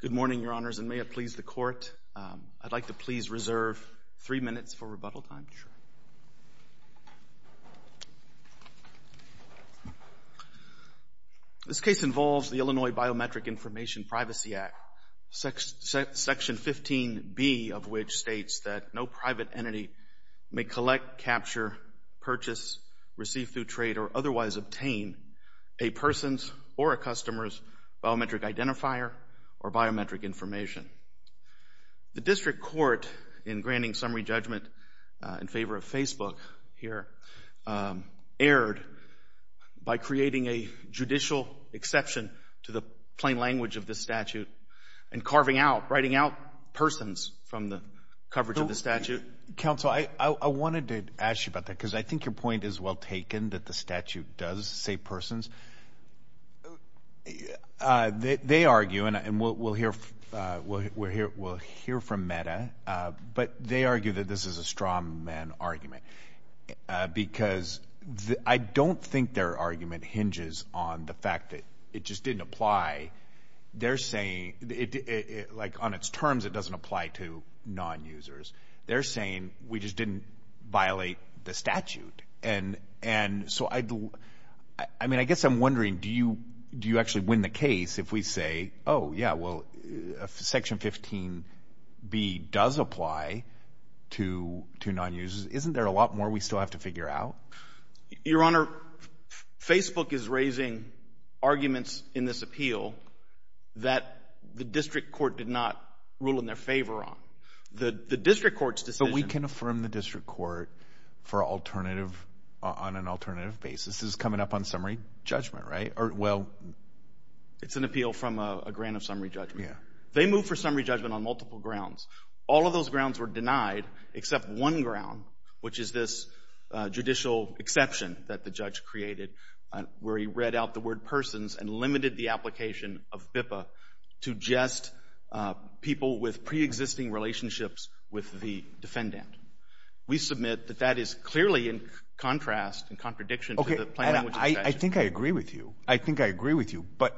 Good morning, Your Honors, and may it please the Court, I'd like to please reserve three minutes for rebuttal time. This case involves the Illinois Biometric Information Privacy Act, Section 15B of which states that no private entity may collect, capture, purchase, receive through trade, or otherwise obtain a person's or a customer's biometric identifier or biometric information. The District Court, in granting summary judgment in favor of Facebook here, erred by creating a judicial exception to the plain language of this statute and carving out, writing out persons from the coverage of the statute. Mr. Counsel, I wanted to ask you about that because I think your point is well taken that the statute does say persons. They argue, and we'll hear from Meta, but they argue that this is a strawman argument because I don't think their argument hinges on the fact that it just didn't apply. They're saying, like on its terms, it doesn't apply to non-users. They're saying we just didn't violate the statute. And so, I mean, I guess I'm wondering, do you actually win the case if we say, oh, yeah, well, Section 15B does apply to non-users? Isn't there a lot more we still have to figure out? Your Honor, Facebook is raising arguments in this appeal that the District Court did not rule in their favor on. The District Court's decision— But we can affirm the District Court for alternative, on an alternative basis. This is coming up on summary judgment, right? Or, well— It's an appeal from a grant of summary judgment. Yeah. They moved for summary judgment on multiple grounds. All of those grounds were denied except one ground, which is this judicial exception that the judge created, where he read out the word persons and limited the application of BIPA to just people with preexisting relationships with the defendant. We submit that that is clearly in contrast and contradiction to the plain language extension. Okay. I think I agree with you. I think I agree with you. But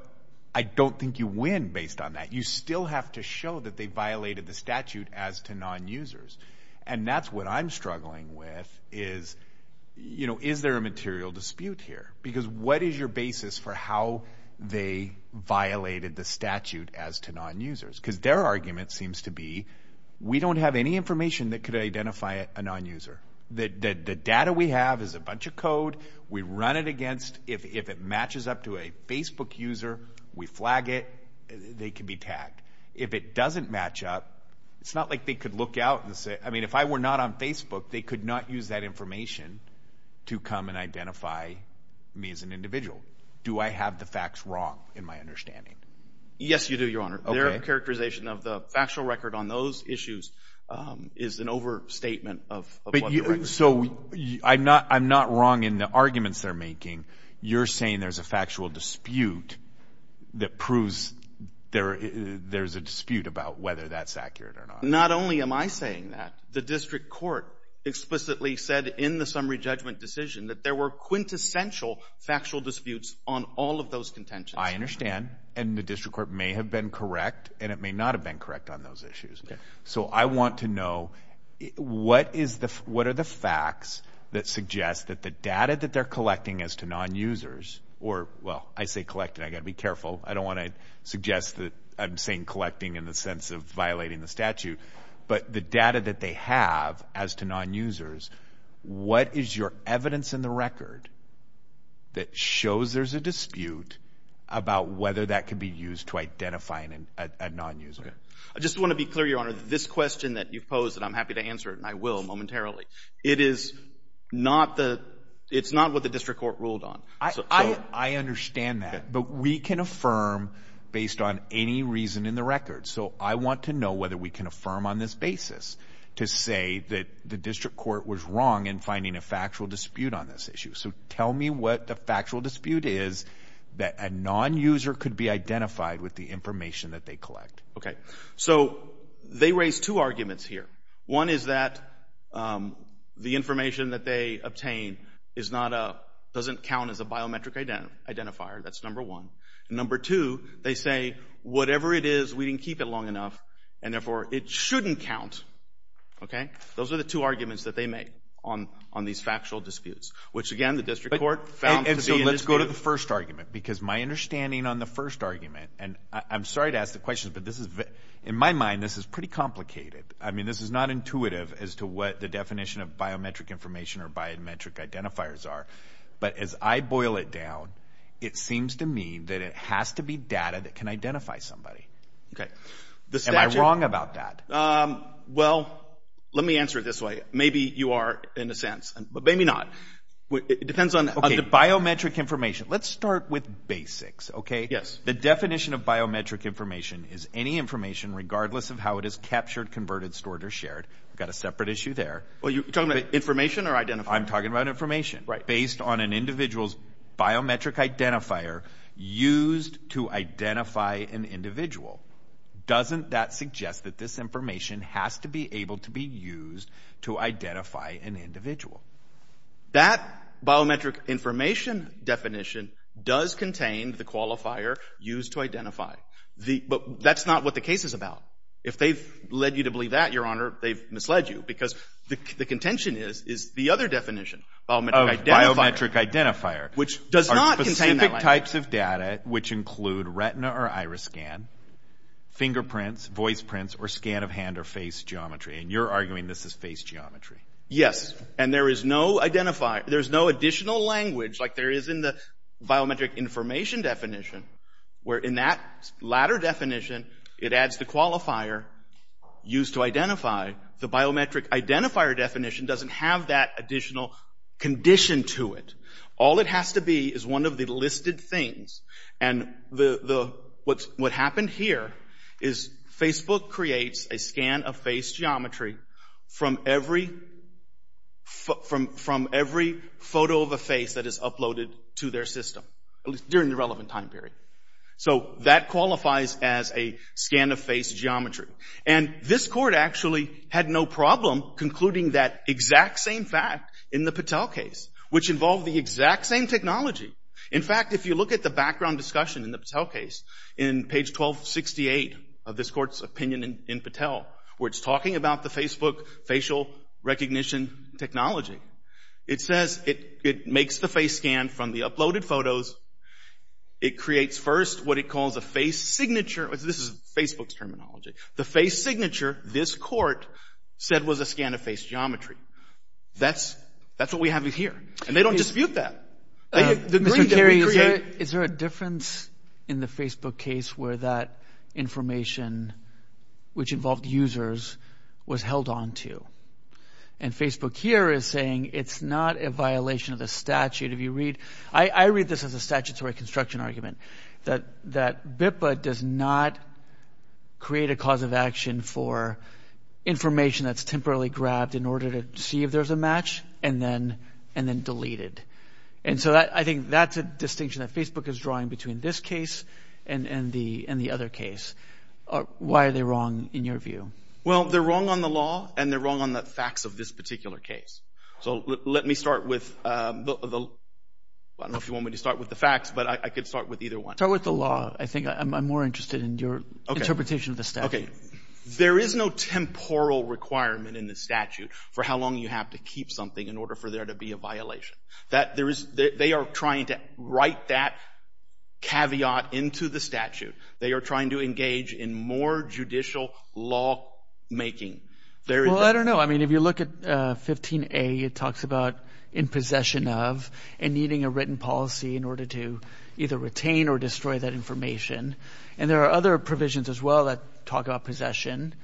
I don't think you win based on that. You still have to show that they violated the statute as to non-users. And that's what I'm struggling with is, you know, is there a material dispute here? Because what is your basis for how they violated the statute as to non-users? Because their argument seems to be we don't have any information that could identify a non-user. The data we have is a bunch of code. We run it against—if it matches up to a Facebook user, we flag it. They can be tagged. If it doesn't match up, it's not like they could look out and say—I mean, if I were not on Facebook, they could not use that information to come and identify me as an individual. Do I have the facts wrong in my understanding? Yes, you do, Your Honor. Their characterization of the factual record on those issues is an overstatement of what the records are. So I'm not wrong in the arguments they're making. You're saying there's a factual dispute that proves there's a dispute about whether that's accurate or not. Not only am I saying that, the district court explicitly said in the summary judgment decision that there were quintessential factual disputes on all of those contentions. I understand. And the district court may have been correct, and it may not have been correct on those issues. So I want to know what are the facts that suggest that the data that they're collecting as to non-users— or, well, I say collecting. I've got to be careful. I don't want to suggest that I'm saying collecting in the sense of violating the statute. But the data that they have as to non-users, what is your evidence in the record that shows there's a dispute about whether that can be used to identify a non-user? I just want to be clear, Your Honor, this question that you've posed, and I'm happy to answer it, and I will momentarily. It is not what the district court ruled on. I understand that. But we can affirm based on any reason in the record. So I want to know whether we can affirm on this basis to say that the district court was wrong in finding a factual dispute on this issue. So tell me what the factual dispute is that a non-user could be identified with the information that they collect. Okay. So they raise two arguments here. One is that the information that they obtain is not a—doesn't count as a biometric identifier. That's number one. Number two, they say whatever it is, we didn't keep it long enough, and therefore it shouldn't count. Okay? Those are the two arguments that they make on these factual disputes, which, again, the district court found to be a dispute. And so let's go to the first argument because my understanding on the first argument, and I'm sorry to ask the question, but in my mind this is pretty complicated. I mean this is not intuitive as to what the definition of biometric information or biometric identifiers are. But as I boil it down, it seems to me that it has to be data that can identify somebody. Okay. Am I wrong about that? Well, let me answer it this way. Maybe you are, in a sense, but maybe not. It depends on the— Okay, biometric information. Let's start with basics, okay? Yes. The definition of biometric information is any information, regardless of how it is captured, converted, stored, or shared. We've got a separate issue there. Are you talking about information or identifying? I'm talking about information. Right. If it's based on an individual's biometric identifier used to identify an individual, doesn't that suggest that this information has to be able to be used to identify an individual? That biometric information definition does contain the qualifier used to identify. But that's not what the case is about. If they've led you to believe that, Your Honor, they've misled you because the contention is the other definition, biometric identifier. Oh, biometric identifier. Which does not contain that language. Specific types of data, which include retina or iris scan, fingerprints, voice prints, or scan of hand or face geometry. And you're arguing this is face geometry. Yes. And there is no additional language, like there is in the biometric information definition, where in that latter definition, it adds the qualifier used to identify. The biometric identifier definition doesn't have that additional condition to it. All it has to be is one of the listed things. And what happened here is Facebook creates a scan of face geometry from every photo of a face that is uploaded to their system, during the relevant time period. So that qualifies as a scan of face geometry. And this Court actually had no problem concluding that exact same fact in the Patel case, which involved the exact same technology. In fact, if you look at the background discussion in the Patel case, in page 1268 of this Court's opinion in Patel, where it's talking about the Facebook facial recognition technology, it says it makes the face scan from the uploaded photos. It creates first what it calls a face signature. This is Facebook's terminology. The face signature, this Court said was a scan of face geometry. That's what we have here. And they don't dispute that. The green that we create. Mr. Carey, is there a difference in the Facebook case where that information, which involved users, was held on to? And Facebook here is saying it's not a violation of the statute. If you read, I read this as a statutory construction argument, that BIPPA does not create a cause of action for information that's temporarily grabbed in order to see if there's a match, and then delete it. And so I think that's a distinction that Facebook is drawing between this case and the other case. Why are they wrong in your view? Well, they're wrong on the law, and they're wrong on the facts of this particular case. So let me start with the facts, but I could start with either one. Start with the law. I think I'm more interested in your interpretation of the statute. Okay. There is no temporal requirement in the statute for how long you have to keep something in order for there to be a violation. They are trying to write that caveat into the statute. They are trying to engage in more judicial lawmaking. Well, I don't know. I mean, if you look at 15A, it talks about in possession of, and needing a written policy in order to either retain or destroy that information. And there are other provisions as well that talk about possession.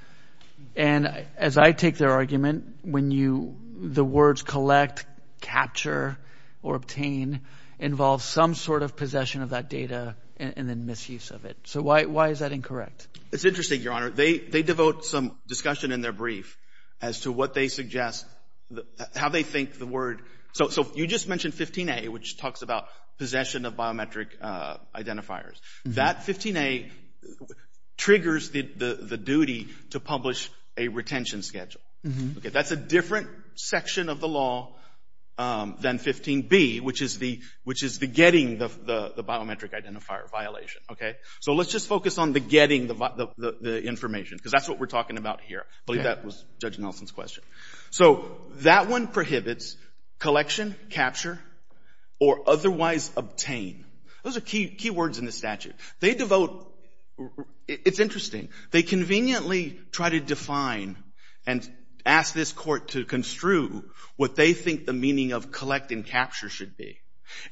And as I take their argument, when you the words collect, capture, or obtain, involves some sort of possession of that data and then misuse of it. So why is that incorrect? It's interesting, Your Honor. They devote some discussion in their brief as to what they suggest, how they think the word. So you just mentioned 15A, which talks about possession of biometric identifiers. That 15A triggers the duty to publish a retention schedule. That's a different section of the law than 15B, which is the getting the biometric identifier violation. Okay? So let's just focus on the getting the information, because that's what we're talking about here. I believe that was Judge Nelson's question. So that one prohibits collection, capture, or otherwise obtain. Those are key words in the statute. They devote — it's interesting. They conveniently try to define and ask this Court to construe what they think the meaning of collect and capture should be.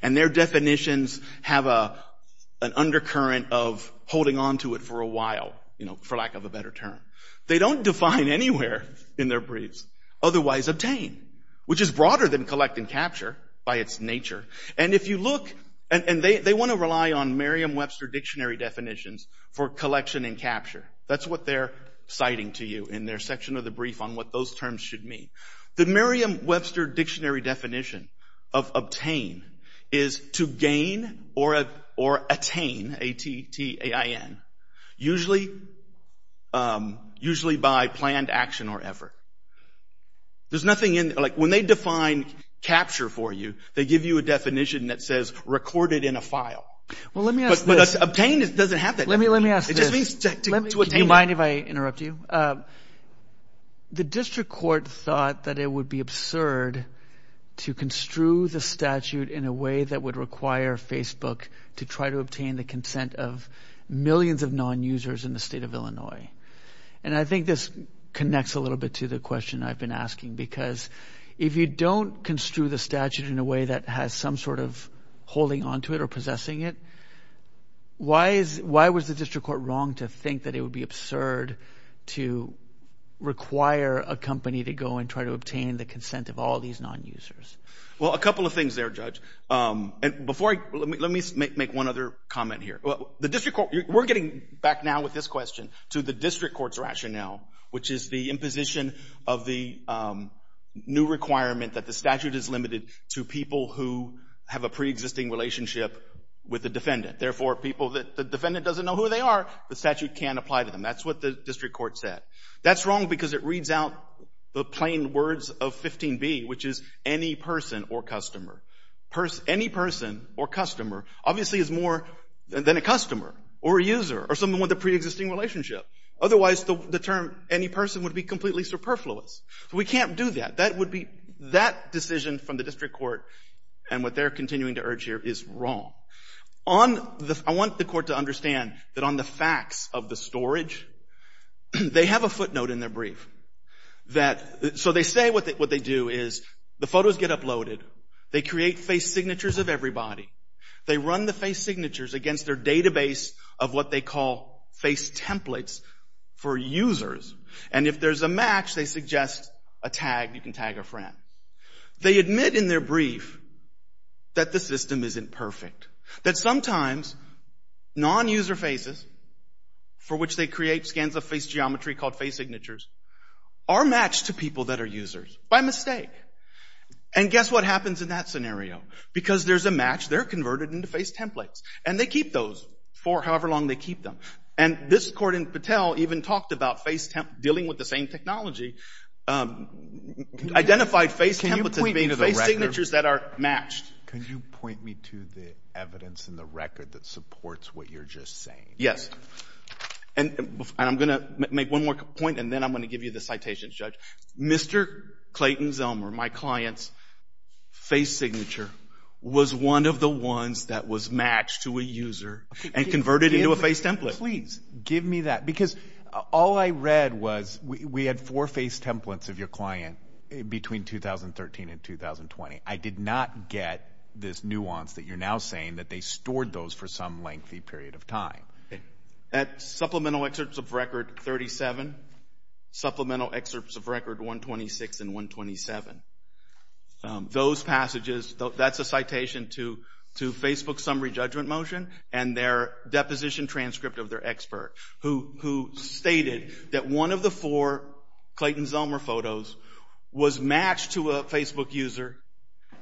And their definitions have an undercurrent of holding onto it for a while, you know, for lack of a better term. They don't define anywhere in their briefs otherwise obtain, which is broader than collect and capture by its nature. And if you look — and they want to rely on Merriam-Webster dictionary definitions for collection and capture. That's what they're citing to you in their section of the brief on what those terms should mean. The Merriam-Webster dictionary definition of obtain is to gain or attain, A-T-T-A-I-N, usually by planned action or effort. There's nothing in — like when they define capture for you, they give you a definition that says recorded in a file. Well, let me ask this. But obtain doesn't have that. Let me ask this. It just means to attain. Do you mind if I interrupt you? The district court thought that it would be absurd to construe the statute in a way that would require Facebook to try to obtain the consent of millions of non-users in the state of Illinois. And I think this connects a little bit to the question I've been asking because if you don't construe the statute in a way that has some sort of holding onto it or possessing it, why was the district court wrong to think that it would be absurd to require a company to go and try to obtain the consent of all these non-users? Well, a couple of things there, Judge. And before I — let me make one other comment here. The district court — we're getting back now with this question to the district court's rationale, which is the imposition of the new requirement that the statute is limited to people who have a preexisting relationship with the defendant. Therefore, people that the defendant doesn't know who they are, the statute can't apply to them. That's what the district court said. That's wrong because it reads out the plain words of 15B, which is any person or customer. Any person or customer obviously is more than a customer or a user or someone with a preexisting relationship. Otherwise, the term any person would be completely superfluous. So we can't do that. That would be — that decision from the district court and what they're continuing to urge here is wrong. On the — I want the court to understand that on the facts of the storage, they have a footnote in their brief that — so they say what they do is the photos get uploaded. They create face signatures of everybody. They run the face signatures against their database of what they call face templates for users. And if there's a match, they suggest a tag. You can tag a friend. They admit in their brief that the system isn't perfect, that sometimes non-user faces for which they create scans of face geometry called face signatures are matched to people that are users by mistake. And guess what happens in that scenario? Because there's a match, they're converted into face templates. And they keep those for however long they keep them. And this court in Patel even talked about face — dealing with the same technology, identified face templates as being face signatures that are matched. Can you point me to the evidence in the record that supports what you're just saying? Yes. And I'm going to make one more point, and then I'm going to give you the citations, Judge. Mr. Clayton Zellmer, my client's face signature was one of the ones that was matched to a user and converted into a face template. Please, give me that. Because all I read was we had four face templates of your client between 2013 and 2020. I did not get this nuance that you're now saying that they stored those for some lengthy period of time. Okay. At supplemental excerpts of record 37, supplemental excerpts of record 126 and 127. Those passages — that's a citation to Facebook's summary judgment motion and their deposition transcript of their expert, who stated that one of the four Clayton Zellmer photos was matched to a Facebook user.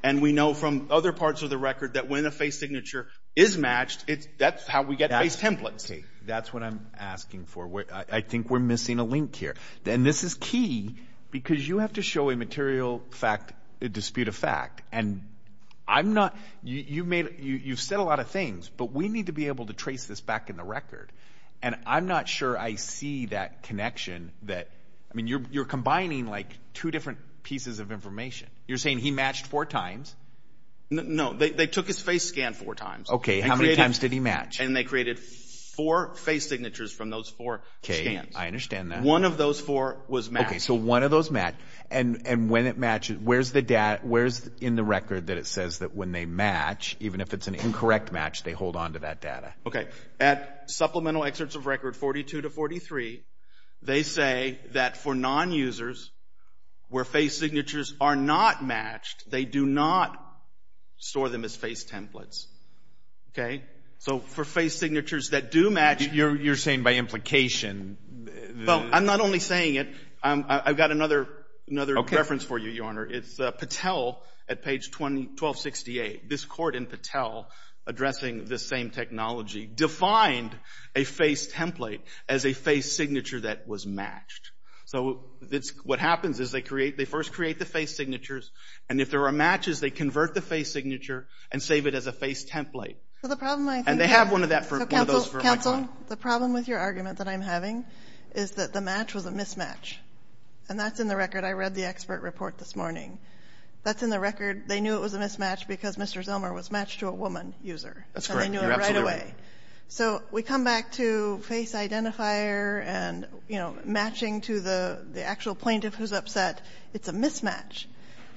And we know from other parts of the record that when a face signature is matched, that's how we get face templates. That's what I'm asking for. I think we're missing a link here. And this is key because you have to show a material fact, a dispute of fact. And I'm not — you've said a lot of things, but we need to be able to trace this back in the record. And I'm not sure I see that connection that — I mean, you're combining, like, two different pieces of information. You're saying he matched four times. No. They took his face scan four times. Okay. How many times did he match? And they created four face signatures from those four scans. Okay. I understand that. One of those four was matched. Okay. So one of those matched. And when it matches, where's the — where's in the record that it says that when they match, even if it's an incorrect match, they hold onto that data? Okay. At supplemental excerpts of record 42 to 43, they say that for non-users where face signatures are not matched, they do not store them as face templates. Okay? So for face signatures that do match — You're saying by implication. Well, I'm not only saying it. I've got another reference for you, Your Honor. It's Patel at page 1268. This court in Patel addressing this same technology defined a face template as a face signature that was matched. So what happens is they first create the face signatures, and if there are matches, they convert the face signature and save it as a face template. And they have one of those for my client. Counsel, the problem with your argument that I'm having is that the match was a mismatch. And that's in the record. I read the expert report this morning. That's in the record. They knew it was a mismatch because Mr. Zilmer was matched to a woman user. That's correct. You're absolutely right. And they knew it right away. So we come back to face identifier and, you know, matching to the actual plaintiff who's upset. It's a mismatch.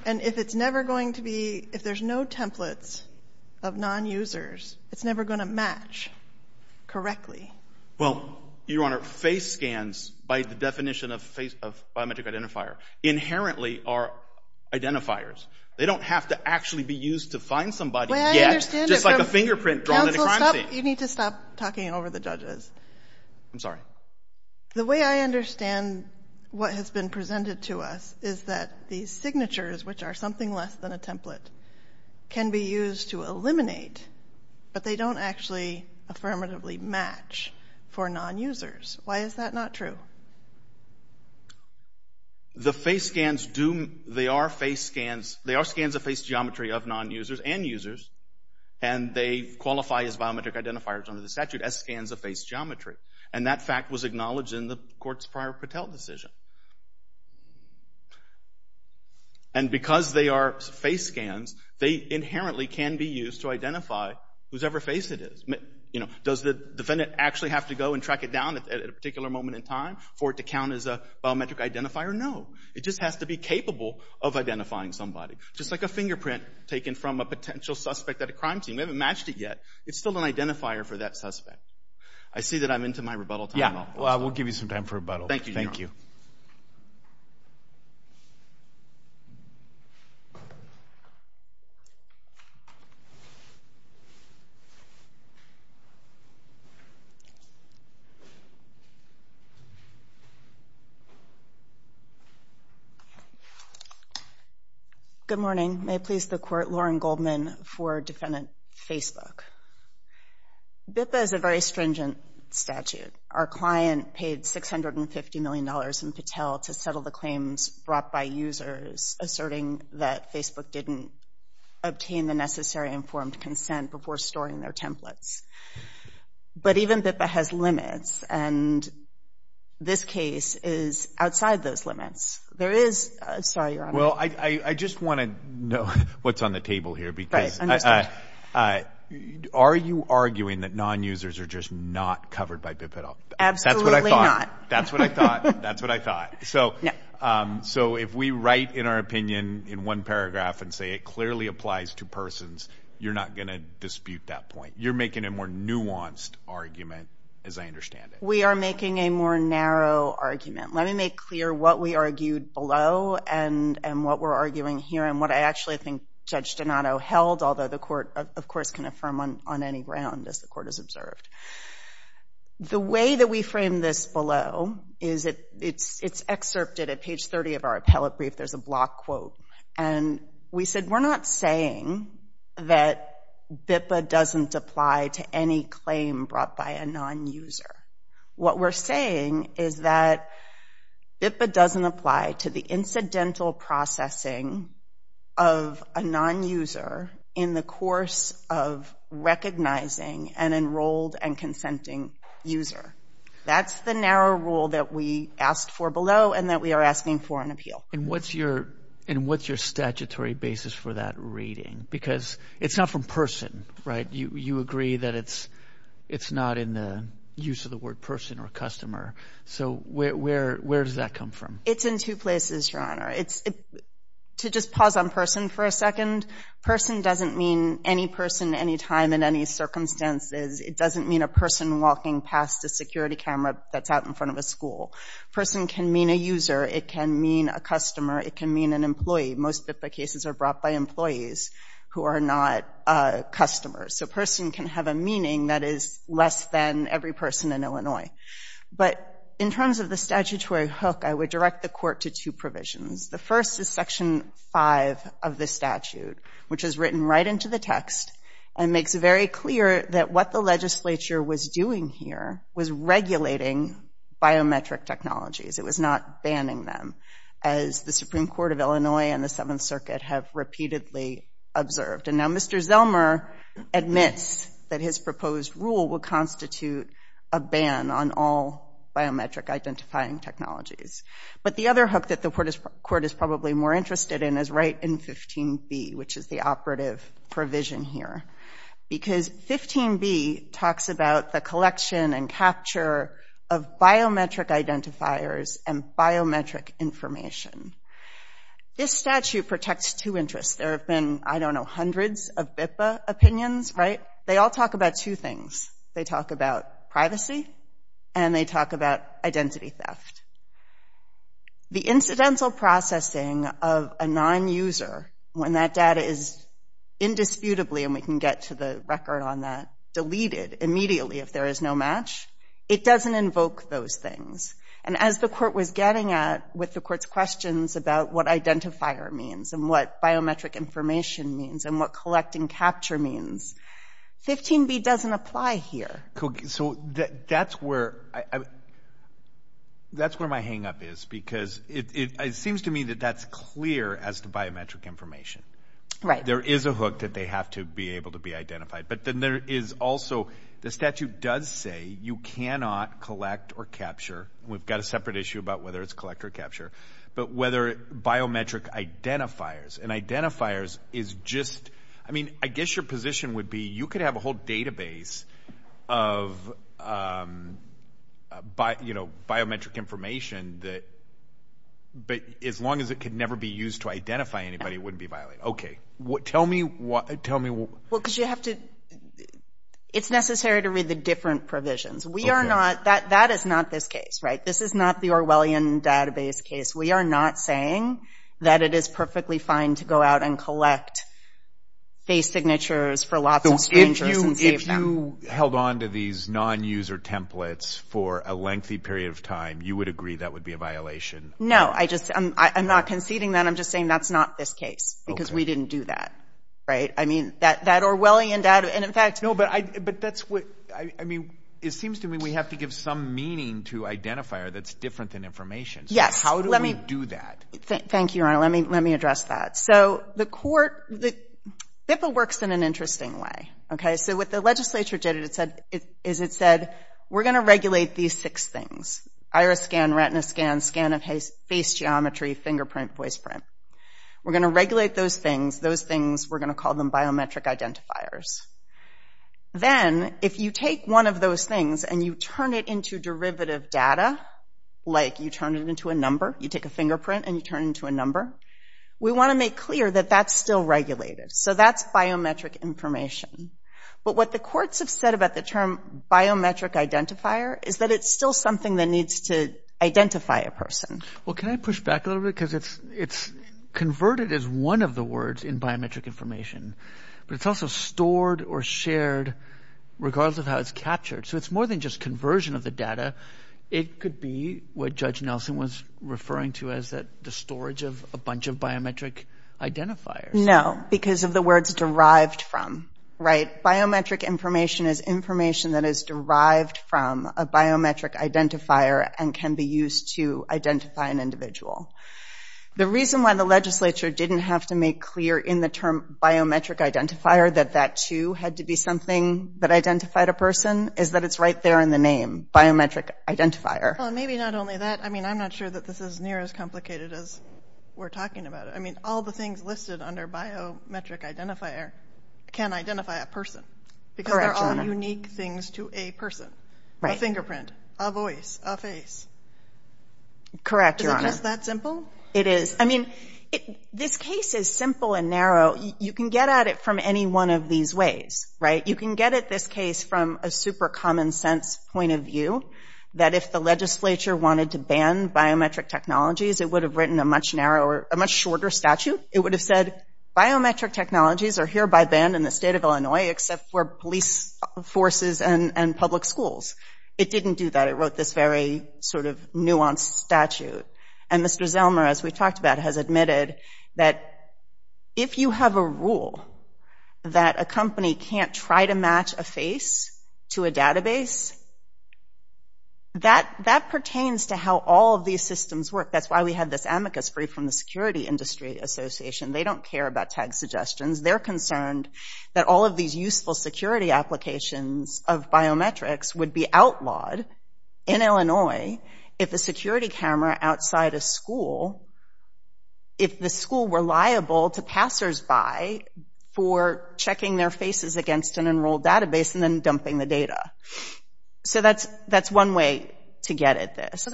And if it's never going to be — if there's no templates of non-users, it's never going to match correctly. Well, Your Honor, face scans, by the definition of biometric identifier, inherently are identifiers. They don't have to actually be used to find somebody yet, just like a fingerprint drawn in a crime scene. Counsel, stop. You need to stop talking over the judges. I'm sorry. The way I understand what has been presented to us is that these signatures, which are something less than a template, can be used to eliminate, but they don't actually affirmatively match for non-users. Why is that not true? The face scans do — they are face scans. They are scans of face geometry of non-users and users, and they qualify as biometric identifiers under the statute as scans of face geometry. And that fact was acknowledged in the court's prior Patel decision. And because they are face scans, they inherently can be used to identify whosever face it is. Does the defendant actually have to go and track it down at a particular moment in time for it to count as a biometric identifier? No. It just has to be capable of identifying somebody, just like a fingerprint taken from a potential suspect at a crime scene. We haven't matched it yet. It's still an identifier for that suspect. I see that I'm into my rebuttal time now. Yeah. We'll give you some time for rebuttal. Thank you, Your Honor. Thank you. Good morning. May it please the Court, Lauren Goldman for Defendant Facebook. BIPA is a very stringent statute. Our client paid $650 million in Patel to settle the claims brought by users asserting that Facebook didn't obtain the necessary informed consent before storing their templates. But even BIPA has limits, and this case is outside those limits. There is – sorry, Your Honor. Well, I just want to know what's on the table here. Right. Understood. Are you arguing that non-users are just not covered by BIPA at all? Absolutely not. That's what I thought. That's what I thought. That's what I thought. So if we write in our opinion in one paragraph and say it clearly applies to persons, you're not going to dispute that point. You're making a more nuanced argument, as I understand it. We are making a more narrow argument. Let me make clear what we argued below and what we're arguing here and what I actually think Judge Donato held, although the court, of course, can affirm on any ground, as the court has observed. The way that we framed this below is it's excerpted at page 30 of our appellate brief. There's a block quote. And we said we're not saying that BIPA doesn't apply to any claim brought by a non-user. What we're saying is that BIPA doesn't apply to the incidental processing of a non-user in the course of recognizing an enrolled and consenting user. That's the narrow rule that we asked for below and that we are asking for in appeal. And what's your statutory basis for that reading? Because it's not from person, right? You agree that it's not in the use of the word person or customer. So where does that come from? It's in two places, Your Honor. To just pause on person for a second, person doesn't mean any person, any time, in any circumstances. It doesn't mean a person walking past a security camera that's out in front of a school. Person can mean a user. It can mean a customer. It can mean an employee. Most BIPA cases are brought by employees who are not customers. So person can have a meaning that is less than every person in Illinois. But in terms of the statutory hook, I would direct the Court to two provisions. The first is Section 5 of the statute, which is written right into the text and makes it very clear that what the legislature was doing here was regulating biometric technologies. It was not banning them, as the Supreme Court of Illinois and the Seventh Circuit have repeatedly observed. And now Mr. Zelmer admits that his proposed rule will constitute a ban on all biometric identifying technologies. But the other hook that the Court is probably more interested in is right in 15b, which is the operative provision here, because 15b talks about the collection and capture of biometric identifiers and biometric information. This statute protects two interests. There have been, I don't know, hundreds of BIPA opinions, right? They all talk about two things. They talk about privacy, and they talk about identity theft. The incidental processing of a nonuser, when that data is indisputably, and we can get to the record on that, deleted immediately if there is no match, it doesn't invoke those things. And as the Court was getting at with the Court's questions about what identifier means and what biometric information means and what collecting capture means, 15b doesn't apply here. So that's where my hang-up is, because it seems to me that that's clear as to biometric information. Right. There is a hook that they have to be able to be identified. But then there is also the statute does say you cannot collect or capture. We've got a separate issue about whether it's collect or capture. But whether biometric identifiers, and identifiers is just, I mean, I guess your position would be you could have a whole database of biometric information, but as long as it could never be used to identify anybody, it wouldn't be violated. Okay. Tell me what. Well, because you have to. It's necessary to read the different provisions. We are not. That is not this case, right? This is not the Orwellian database case. We are not saying that it is perfectly fine to go out and collect face signatures for lots of strangers and save them. So if you held on to these non-user templates for a lengthy period of time, you would agree that would be a violation? No. I'm not conceding that. I'm just saying that's not this case, because we didn't do that. Right? I mean, that Orwellian data, and in fact. No, but that's what, I mean, it seems to me we have to give some meaning to identifier that's different than information. Yes. How do we do that? Thank you, Your Honor. Let me address that. So the court, BIFA works in an interesting way. Okay? So what the legislature did is it said, we're going to regulate these six things, iris scan, retina scan, scan of face geometry, fingerprint, voice print. We're going to regulate those things. Those things, we're going to call them biometric identifiers. Then, if you take one of those things and you turn it into derivative data, like you turn it into a number, you take a fingerprint and you turn it into a number, we want to make clear that that's still regulated. So that's biometric information. But what the courts have said about the term biometric identifier is that it's still something that needs to identify a person. Well, can I push back a little bit? Because it's converted as one of the words in biometric information, but it's also stored or shared regardless of how it's captured. So it's more than just conversion of the data. It could be what Judge Nelson was referring to as the storage of a bunch of biometric identifiers. No, because of the words derived from. Right? a biometric identifier and can be used to identify an individual. The reason why the legislature didn't have to make clear in the term biometric identifier that that, too, had to be something that identified a person is that it's right there in the name, biometric identifier. Well, maybe not only that. I mean, I'm not sure that this is near as complicated as we're talking about it. I mean, all the things listed under biometric identifier can identify a person. Correct, Your Honor. A person, a fingerprint, a voice, a face. Correct, Your Honor. Is it just that simple? It is. I mean, this case is simple and narrow. You can get at it from any one of these ways, right? You can get at this case from a super common sense point of view that if the legislature wanted to ban biometric technologies, it would have written a much shorter statute. It would have said biometric technologies are hereby banned in the state of Illinois except for police forces and public schools. It didn't do that. It wrote this very sort of nuanced statute. And Mr. Zelmer, as we talked about, has admitted that if you have a rule that a company can't try to match a face to a database, that pertains to how all of these systems work. That's why we had this amicus brief from the Security Industry Association. They don't care about tag suggestions. They're concerned that all of these useful security applications of biometrics would be outlawed in Illinois if a security camera outside a school, if the school were liable to passersby for checking their faces against an enrolled database and then dumping the data. So that's one way to get at this.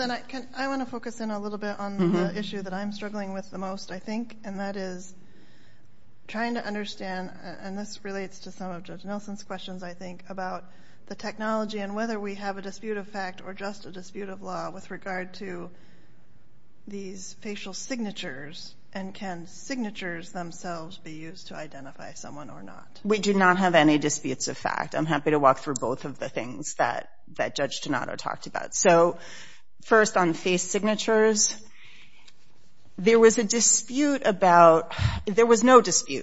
I want to focus in a little bit on the issue that I'm struggling with the most, I think, and that is trying to understand, and this relates to some of Judge Nelson's questions, I think, about the technology and whether we have a dispute of fact or just a dispute of law with regard to these facial signatures and can signatures themselves be used to identify someone or not. We do not have any disputes of fact. I'm happy to walk through both of the things that Judge Donato talked about. First, on face signatures, there was no dispute,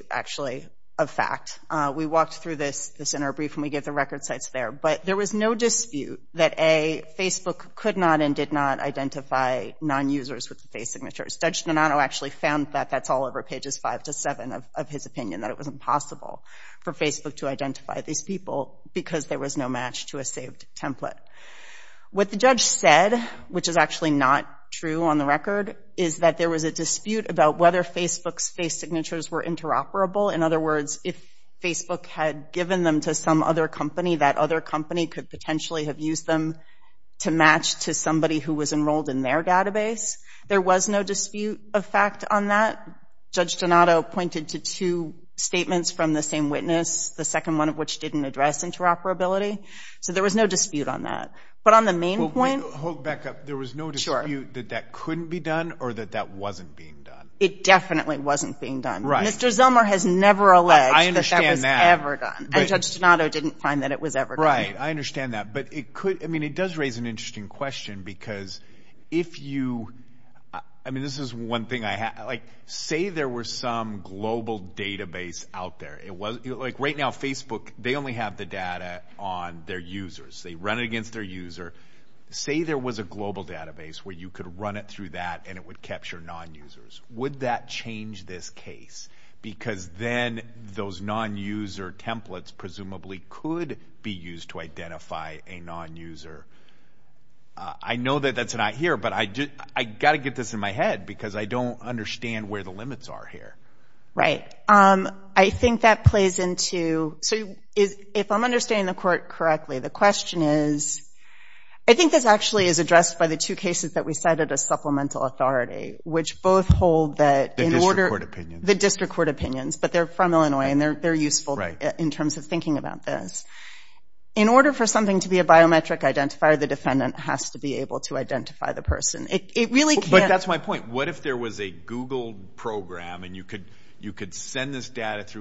actually, of fact. We walked through this in our brief and we gave the record sites there, but there was no dispute that, A, Facebook could not and did not identify non-users with the face signatures. Judge Donato actually found that that's all over pages five to seven of his opinion, that it was impossible for Facebook to identify these people because there was no match to a saved template. What the judge said, which is actually not true on the record, is that there was a dispute about whether Facebook's face signatures were interoperable. In other words, if Facebook had given them to some other company, that other company could potentially have used them to match to somebody who was enrolled in their database. There was no dispute of fact on that. Judge Donato pointed to two statements from the same witness, the second one of which didn't address interoperability. So there was no dispute on that. But on the main point – Hold back up. There was no dispute that that couldn't be done or that that wasn't being done? It definitely wasn't being done. Right. Mr. Zellmer has never alleged that that was ever done. I understand that. And Judge Donato didn't find that it was ever done. Right. I understand that. But it could – I mean, it does raise an interesting question because if you – I mean, this is one thing I – like, say there were some global database out there. Like, right now, Facebook, they only have the data on their users. They run it against their user. Say there was a global database where you could run it through that and it would capture non-users. Would that change this case? Because then those non-user templates presumably could be used to identify a non-user. I know that that's not here, but I got to get this in my head because I don't understand where the limits are here. Right. I think that plays into – so if I'm understanding the court correctly, the question is – I think this actually is addressed by the two cases that we cited as supplemental authority, which both hold that in order – The district court opinions. The district court opinions, but they're from Illinois and they're useful in terms of thinking about this. In order for something to be a biometric identifier, the defendant has to be able to identify the person. It really can't – through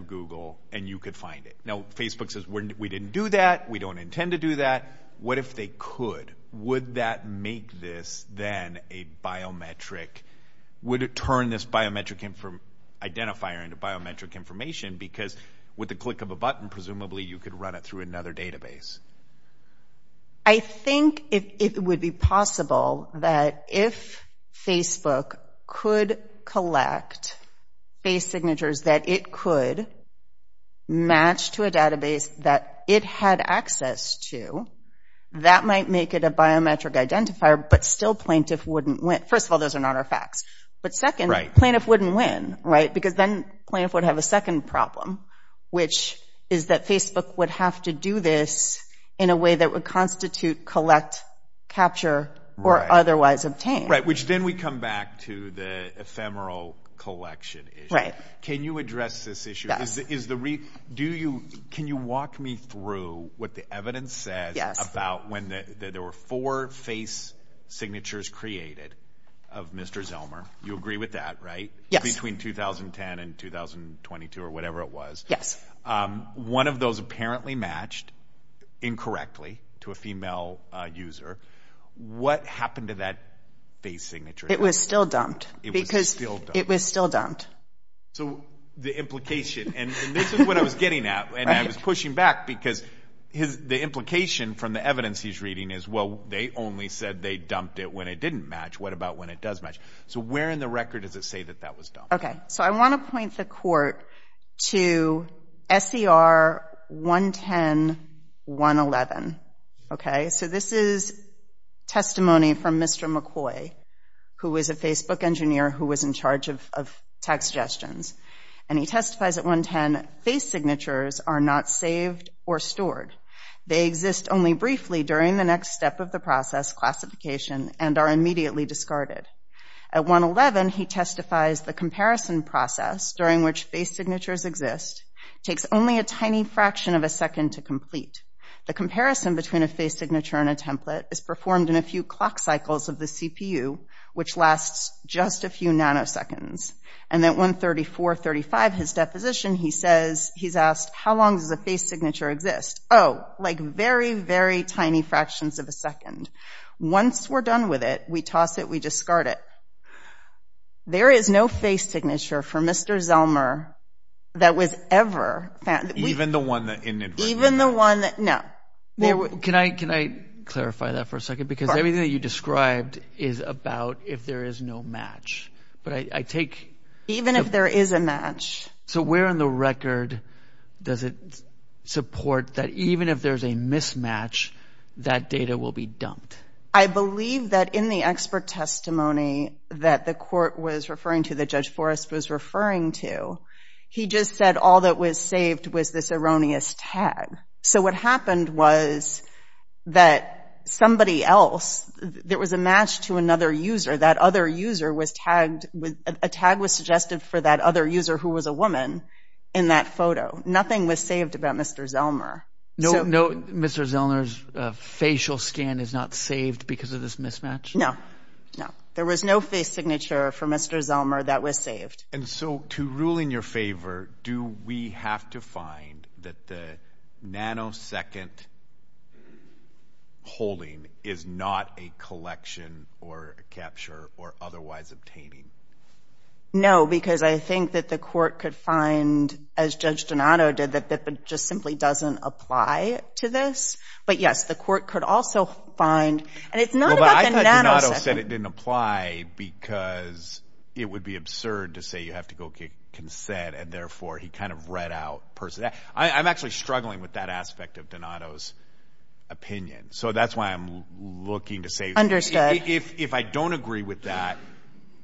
Google and you could find it. Now, Facebook says, we didn't do that. We don't intend to do that. What if they could? Would that make this then a biometric – would it turn this biometric identifier into biometric information? Because with the click of a button, presumably you could run it through another database. I think it would be possible that if Facebook could collect face signatures that it could match to a database that it had access to, that might make it a biometric identifier, but still plaintiff wouldn't win. First of all, those are not our facts. But second, plaintiff wouldn't win, right? Because then plaintiff would have a second problem, which is that Facebook would have to do this in a way that would constitute collect, capture, or otherwise obtain. Right, which then we come back to the ephemeral collection issue. Right. Can you address this issue? Yes. Is the – do you – can you walk me through what the evidence says about when there were four face signatures created of Mr. Zellmer? You agree with that, right? Yes. Between 2010 and 2022 or whatever it was. Yes. One of those apparently matched incorrectly to a female user. What happened to that face signature? It was still dumped. It was still dumped. It was still dumped. So the implication – and this is what I was getting at, and I was pushing back, because the implication from the evidence he's reading is, well, they only said they dumped it when it didn't match. What about when it does match? So where in the record does it say that that was dumped? Okay. So I want to point the court to SCR 110.111. Okay? So this is testimony from Mr. McCoy, who is a Facebook engineer who was in charge of text gestures. And he testifies at 110, face signatures are not saved or stored. They exist only briefly during the next step of the process, classification, and are immediately discarded. At 111, he testifies the comparison process during which face signatures exist takes only a tiny fraction of a second to complete. The comparison between a face signature and a template is performed in a few clock cycles of the CPU, which lasts just a few nanoseconds. And at 134.35, his deposition, he says – he's asked, how long does a face signature exist? Oh, like very, very tiny fractions of a second. Once we're done with it, we toss it, we discard it. There is no face signature for Mr. Zellmer that was ever – Even the one that – Even the one – no. Can I clarify that for a second? Because everything that you described is about if there is no match. But I take – Even if there is a match. So where in the record does it support that even if there's a mismatch, that data will be dumped? I believe that in the expert testimony that the court was referring to, that Judge Forrest was referring to, he just said all that was saved was this erroneous tag. So what happened was that somebody else – there was a match to another user. That other user was tagged – a tag was suggested for that other user who was a woman in that photo. Nothing was saved about Mr. Zellmer. No Mr. Zellmer's facial scan is not saved because of this mismatch? No, no. There was no face signature for Mr. Zellmer that was saved. And so to rule in your favor, do we have to find that the nanosecond holding is not a collection or a capture or otherwise obtaining? No, because I think that the court could find, as Judge Donato did, that it just simply doesn't apply to this. But yes, the court could also find – and it's not about the nanosecond. He said it didn't apply because it would be absurd to say you have to go get consent and therefore he kind of read out – I'm actually struggling with that aspect of Donato's opinion. So that's why I'm looking to say – Understood. If I don't agree with that,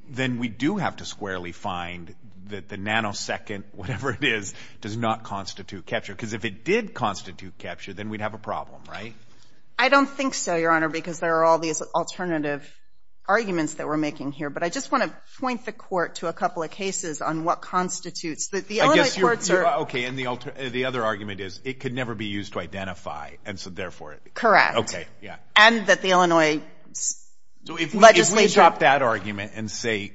then we do have to squarely find that the nanosecond, whatever it is, does not constitute capture. Because if it did constitute capture, then we'd have a problem, right? I don't think so, Your Honor, because there are all these alternative arguments that we're making here. But I just want to point the court to a couple of cases on what constitutes – I guess you're – The Illinois courts are – Okay. And the other argument is it could never be used to identify, and so therefore – Correct. Okay. Yeah. And that the Illinois legislature – So if we drop that argument and say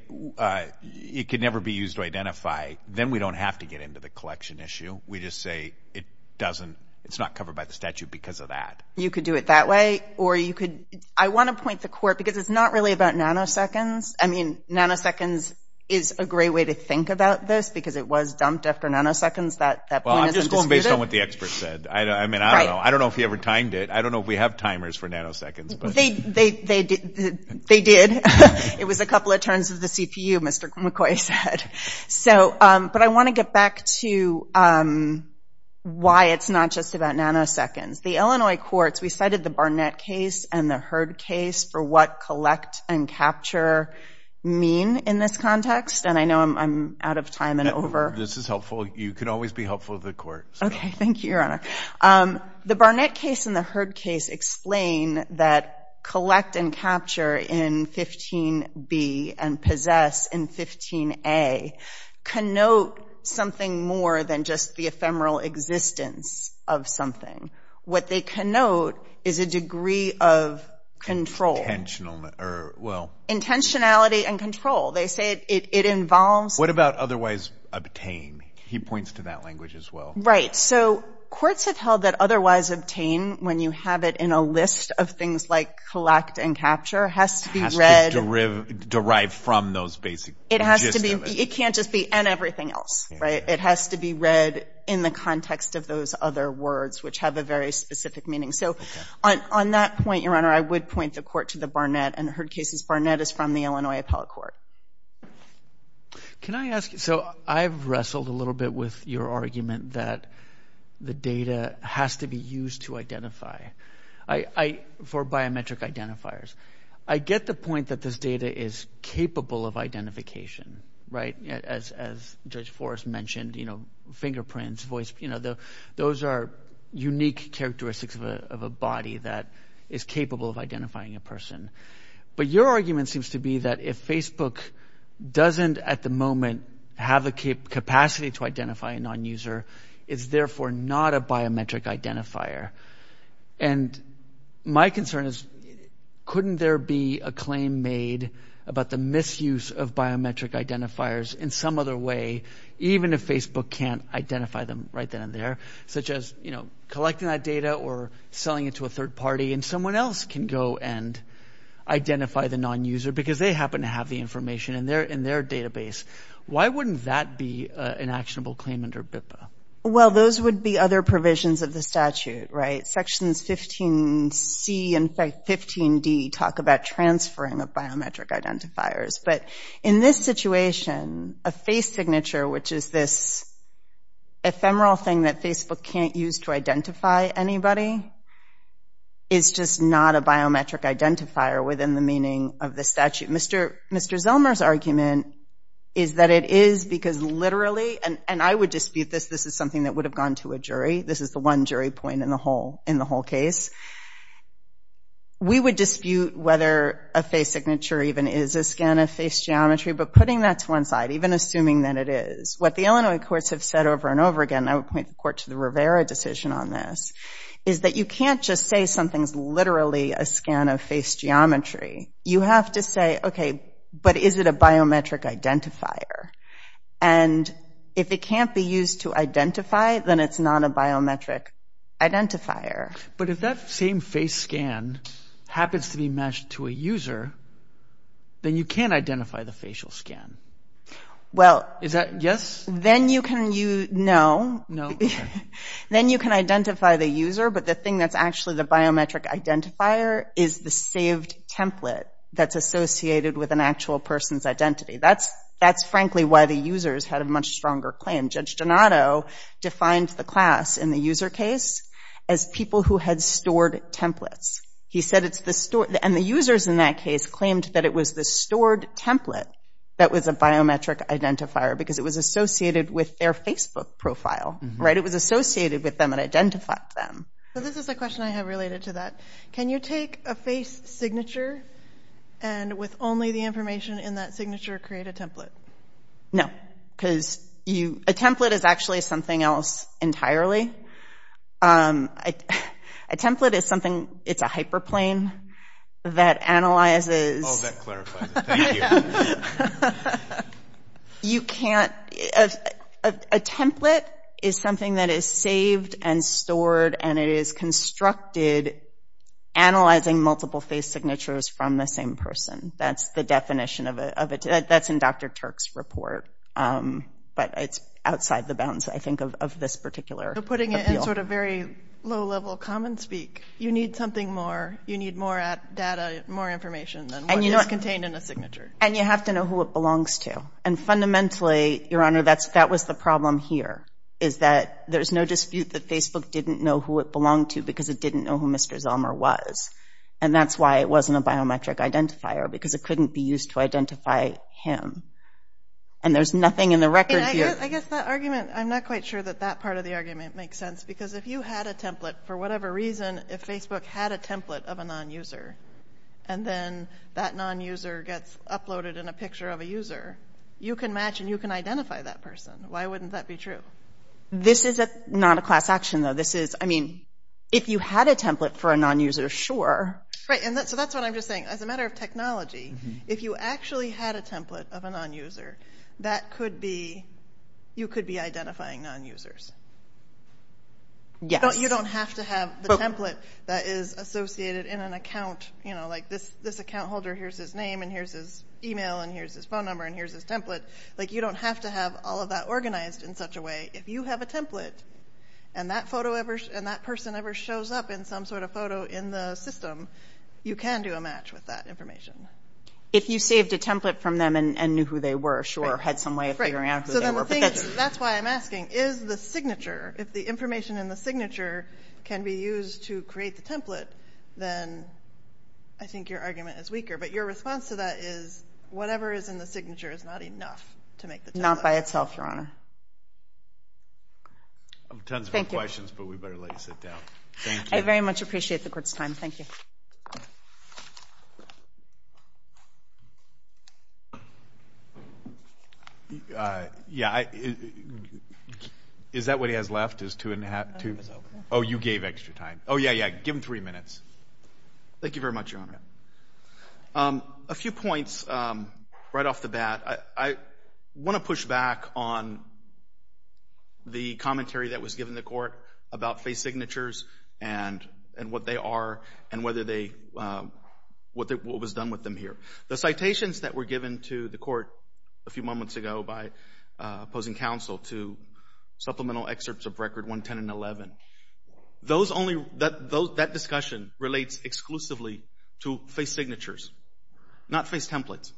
it could never be used to identify, then we don't have to get into the collection issue. We just say it doesn't – it's not covered by the statute because of that. You could do it that way, or you could – I want to point the court – because it's not really about nanoseconds. I mean, nanoseconds is a great way to think about this because it was dumped after nanoseconds. That point isn't disputed. Well, I'm just going based on what the expert said. I mean, I don't know. I don't know if he ever timed it. I don't know if we have timers for nanoseconds, but – They did. It was a couple of turns of the CPU, Mr. McCoy said. But I want to get back to why it's not just about nanoseconds. The Illinois courts – we cited the Barnett case and the Hurd case for what collect and capture mean in this context, and I know I'm out of time and over. This is helpful. You can always be helpful to the court. Okay. Thank you, Your Honor. The Barnett case and the Hurd case explain that collect and capture in 15B and possess in 15A connote something more than just the ephemeral existence of something. What they connote is a degree of control. Intentional – or, well – Intentionality and control. They say it involves – What about otherwise obtain? He points to that language as well. Right. So courts have held that otherwise obtain, when you have it in a list of things like collect and capture, has to be read – Has to derive from those basic – It has to be – it can't just be and everything else, right? It has to be read in the context of those other words, which have a very specific meaning. So on that point, Your Honor, I would point the court to the Barnett and Hurd cases. Barnett is from the Illinois Appellate Court. Can I ask – so I've wrestled a little bit with your argument that the data has to be used to identify for biometric identifiers. I get the point that this data is capable of identification, right? As Judge Forrest mentioned, fingerprints, voice – those are unique characteristics of a body that is capable of identifying a person. But your argument seems to be that if Facebook doesn't at the moment have the capacity to identify a nonuser, it's therefore not a biometric identifier. And my concern is couldn't there be a claim made about the misuse of biometric identifiers in some other way, even if Facebook can't identify them right then and there, such as collecting that data or selling it to a third party and someone else can go and identify the nonuser because they happen to have the information in their database. Why wouldn't that be an actionable claim under BIPA? Well, those would be other provisions of the statute, right? Sections 15C and 15D talk about transferring of biometric identifiers. But in this situation, a face signature, which is this ephemeral thing that Facebook can't use to identify anybody, is just not a biometric identifier within the meaning of the statute. Mr. Zellmer's argument is that it is because literally – and I would dispute this. This is something that would have gone to a jury. This is the one jury point in the whole case. We would dispute whether a face signature even is a scan of face geometry, but putting that to one side, even assuming that it is, what the Illinois courts have said over and over again, and I would point the court to the Rivera decision on this, is that you can't just say something's literally a scan of face geometry. You have to say, okay, but is it a biometric identifier? And if it can't be used to identify, then it's not a biometric identifier. But if that same face scan happens to be matched to a user, then you can't identify the facial scan. Is that a yes? No. Then you can identify the user, but the thing that's actually the biometric identifier is the saved template that's associated with an actual person's identity. That's frankly why the users had a much stronger claim. Judge Donato defined the class in the user case as people who had stored templates. He said it's the store, and the users in that case claimed that it was the stored template that was a biometric identifier because it was associated with their Facebook profile. It was associated with them and identified them. This is a question I have related to that. Can you take a face signature and with only the information in that signature create a template? No, because a template is actually something else entirely. A template is something, it's a hyperplane that analyzes. Oh, that clarifies it. Thank you. You can't, a template is something that is saved and stored, and it is constructed analyzing multiple face signatures from the same person. That's the definition of it. That's in Dr. Turk's report, but it's outside the bounds, I think, of this particular appeal. You're putting it in sort of very low-level common speak. You need something more. You need more data, more information than what is contained in a signature. You have to know who it belongs to. Fundamentally, Your Honor, that was the problem here, is that there's no dispute that Facebook didn't know who it belonged to because it didn't know who Mr. Zelmer was. And that's why it wasn't a biometric identifier, because it couldn't be used to identify him. And there's nothing in the record here. I guess that argument, I'm not quite sure that that part of the argument makes sense, because if you had a template, for whatever reason, if Facebook had a template of a non-user, and then that non-user gets uploaded in a picture of a user, you can match and you can identify that person. Why wouldn't that be true? This is not a class action, though. If you had a template for a non-user, sure. So that's what I'm just saying. As a matter of technology, if you actually had a template of a non-user, you could be identifying non-users. You don't have to have the template that is associated in an account, like this account holder, here's his name and here's his e-mail and here's his phone number and here's his template. You don't have to have all of that organized in such a way. If you have a template and that person ever shows up in some sort of photo in the system, you can do a match with that information. If you saved a template from them and knew who they were, sure, had some way of figuring out who they were. That's why I'm asking, is the signature, if the information in the signature can be used to create the template, then I think your argument is weaker. But your response to that is whatever is in the signature is not enough to make the template. But not by itself, Your Honor. I have tons of questions, but we better let you sit down. Thank you. I very much appreciate the Court's time. Thank you. Yeah, is that what he has left, is two and a half? Oh, you gave extra time. Oh, yeah, yeah, give him three minutes. Thank you very much, Your Honor. A few points right off the bat. I want to push back on the commentary that was given to the Court about face signatures and what they are and what was done with them here. The citations that were given to the Court a few moments ago by opposing counsel to supplemental excerpts of Record 110 and 11, that discussion relates exclusively to face signatures, not face templates,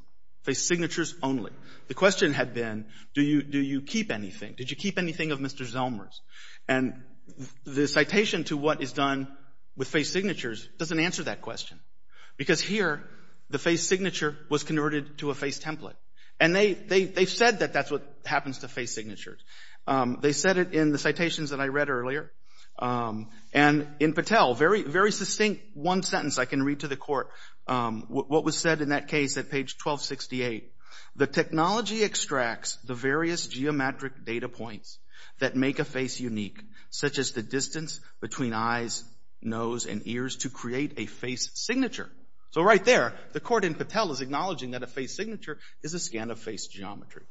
face signatures only. The question had been, do you keep anything? Did you keep anything of Mr. Zellmer's? And the citation to what is done with face signatures doesn't answer that question because here the face signature was converted to a face template. And they said that that's what happens to face signatures. They said it in the citations that I read earlier. And in Patel, a very succinct one sentence I can read to the Court, what was said in that case at page 1268, the technology extracts the various geometric data points that make a face unique, such as the distance between eyes, nose, and ears to create a face signature. So right there, the Court in Patel is acknowledging that a face signature is a scan of face geometry.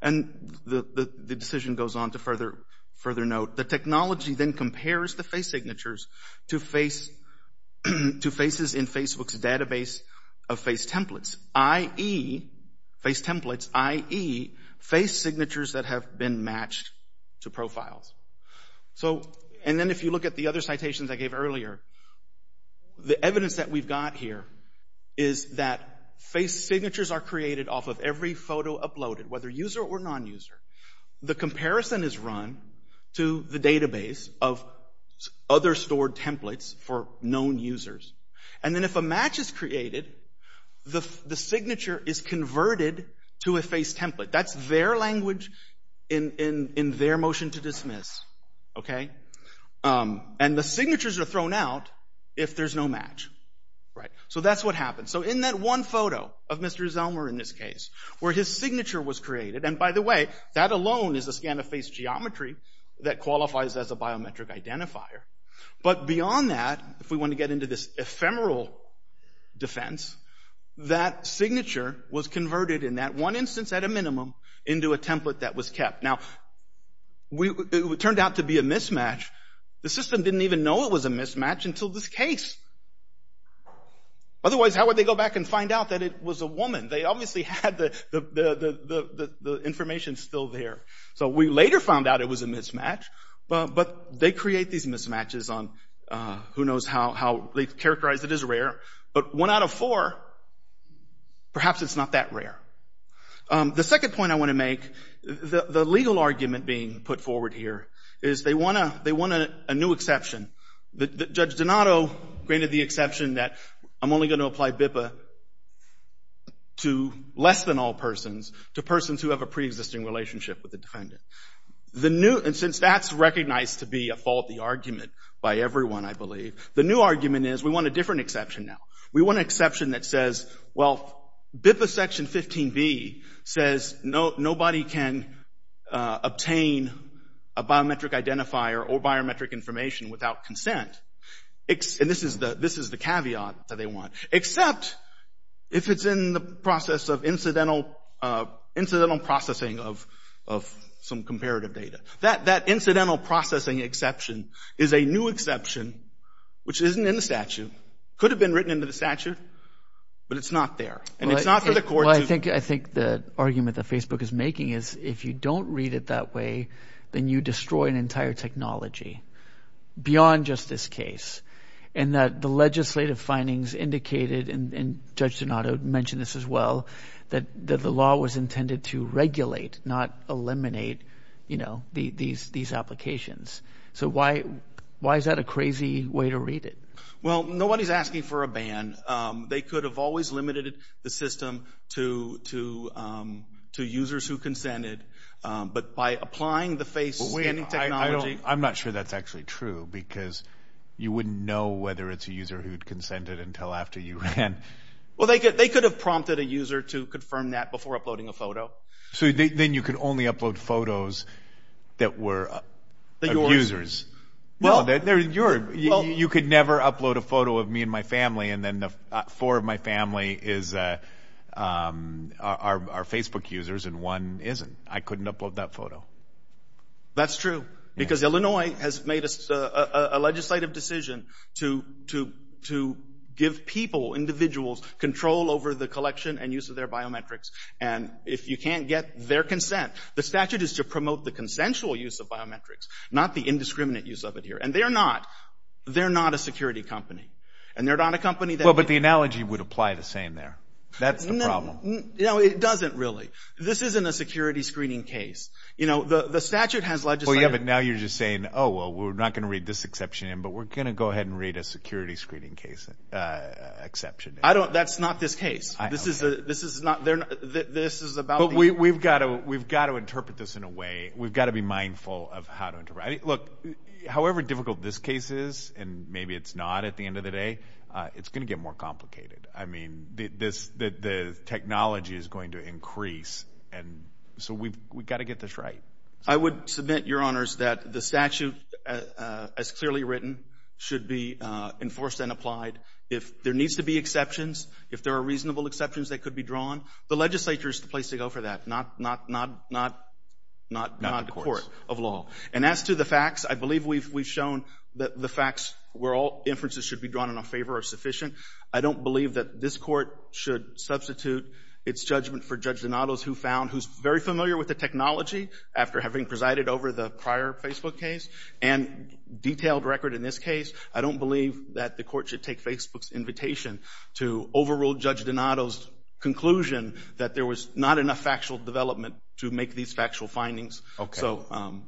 And the decision goes on to further note, the technology then compares the face signatures to faces in Facebook's database of face templates, i.e., face templates, i.e., face signatures that have been matched to profiles. And then if you look at the other citations I gave earlier, the evidence that we've got here is that face signatures are created off of every photo uploaded, whether user or non-user. The comparison is run to the database of other stored templates for known users. And then if a match is created, the signature is converted to a face template. That's their language in their motion to dismiss. And the signatures are thrown out if there's no match. So that's what happens. So in that one photo of Mr. Zelmer in this case, where his signature was created, and by the way, that alone is a scan of face geometry that qualifies as a biometric identifier. But beyond that, if we want to get into this ephemeral defense, that signature was converted in that one instance at a minimum into a template that was kept. Now, it turned out to be a mismatch. The system didn't even know it was a mismatch until this case. Otherwise, how would they go back and find out that it was a woman? They obviously had the information still there. So we later found out it was a mismatch. But they create these mismatches on who knows how they characterize it as rare. But one out of four, perhaps it's not that rare. The second point I want to make, the legal argument being put forward here, is they want a new exception. Judge Donato granted the exception that I'm only going to apply BIPA to less than all persons, to persons who have a preexisting relationship with the defendant. And since that's recognized to be a faulty argument by everyone, I believe, the new argument is we want a different exception now. We want an exception that says, well, BIPA Section 15B says nobody can obtain a biometric identifier or biometric information without consent. And this is the caveat that they want. Except if it's in the process of incidental processing of some comparative data. That incidental processing exception is a new exception, which isn't in the statute, could have been written into the statute, but it's not there. And it's not for the court to— Well, I think the argument that Facebook is making is if you don't read it that way, then you destroy an entire technology beyond just this case. And that the legislative findings indicated, and Judge Donato mentioned this as well, that the law was intended to regulate, not eliminate, you know, these applications. So why is that a crazy way to read it? Well, nobody's asking for a ban. They could have always limited the system to users who consented. But by applying the face scanning technology— I'm not sure that's actually true, because you wouldn't know whether it's a user who consented until after you ran. Well, they could have prompted a user to confirm that before uploading a photo. So then you could only upload photos that were of users. No, they're yours. You could never upload a photo of me and my family, and then four of my family are Facebook users and one isn't. I couldn't upload that photo. That's true, because Illinois has made a legislative decision to give people, individuals, control over the collection and use of their biometrics. And if you can't get their consent, the statute is to promote the consensual use of biometrics, not the indiscriminate use of it here. And they're not a security company. And they're not a company that— Well, but the analogy would apply the same there. That's the problem. No, it doesn't really. This isn't a security screening case. The statute has legislative— Well, yeah, but now you're just saying, oh, well, we're not going to read this exception in, but we're going to go ahead and read a security screening case exception in. That's not this case. This is about— But we've got to interpret this in a way. We've got to be mindful of how to— Look, however difficult this case is, and maybe it's not at the end of the day, it's going to get more complicated. I mean, the technology is going to increase, and so we've got to get this right. I would submit, Your Honors, that the statute, as clearly written, should be enforced and applied. If there needs to be exceptions, if there are reasonable exceptions that could be drawn, the legislature is the place to go for that, not the court of law. And as to the facts, I believe we've shown that the facts where all inferences should be drawn in our favor are sufficient. I don't believe that this court should substitute its judgment for Judge Donato's, who found—who's very familiar with the technology after having presided over the prior Facebook case and detailed record in this case. I don't believe that the court should take Facebook's invitation to overrule Judge Donato's conclusion that there was not enough factual development to make these factual findings. Okay. So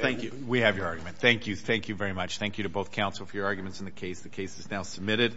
thank you. We have your argument. Thank you. Thank you very much. Thank you to both counsel for your arguments in the case. The case is now submitted.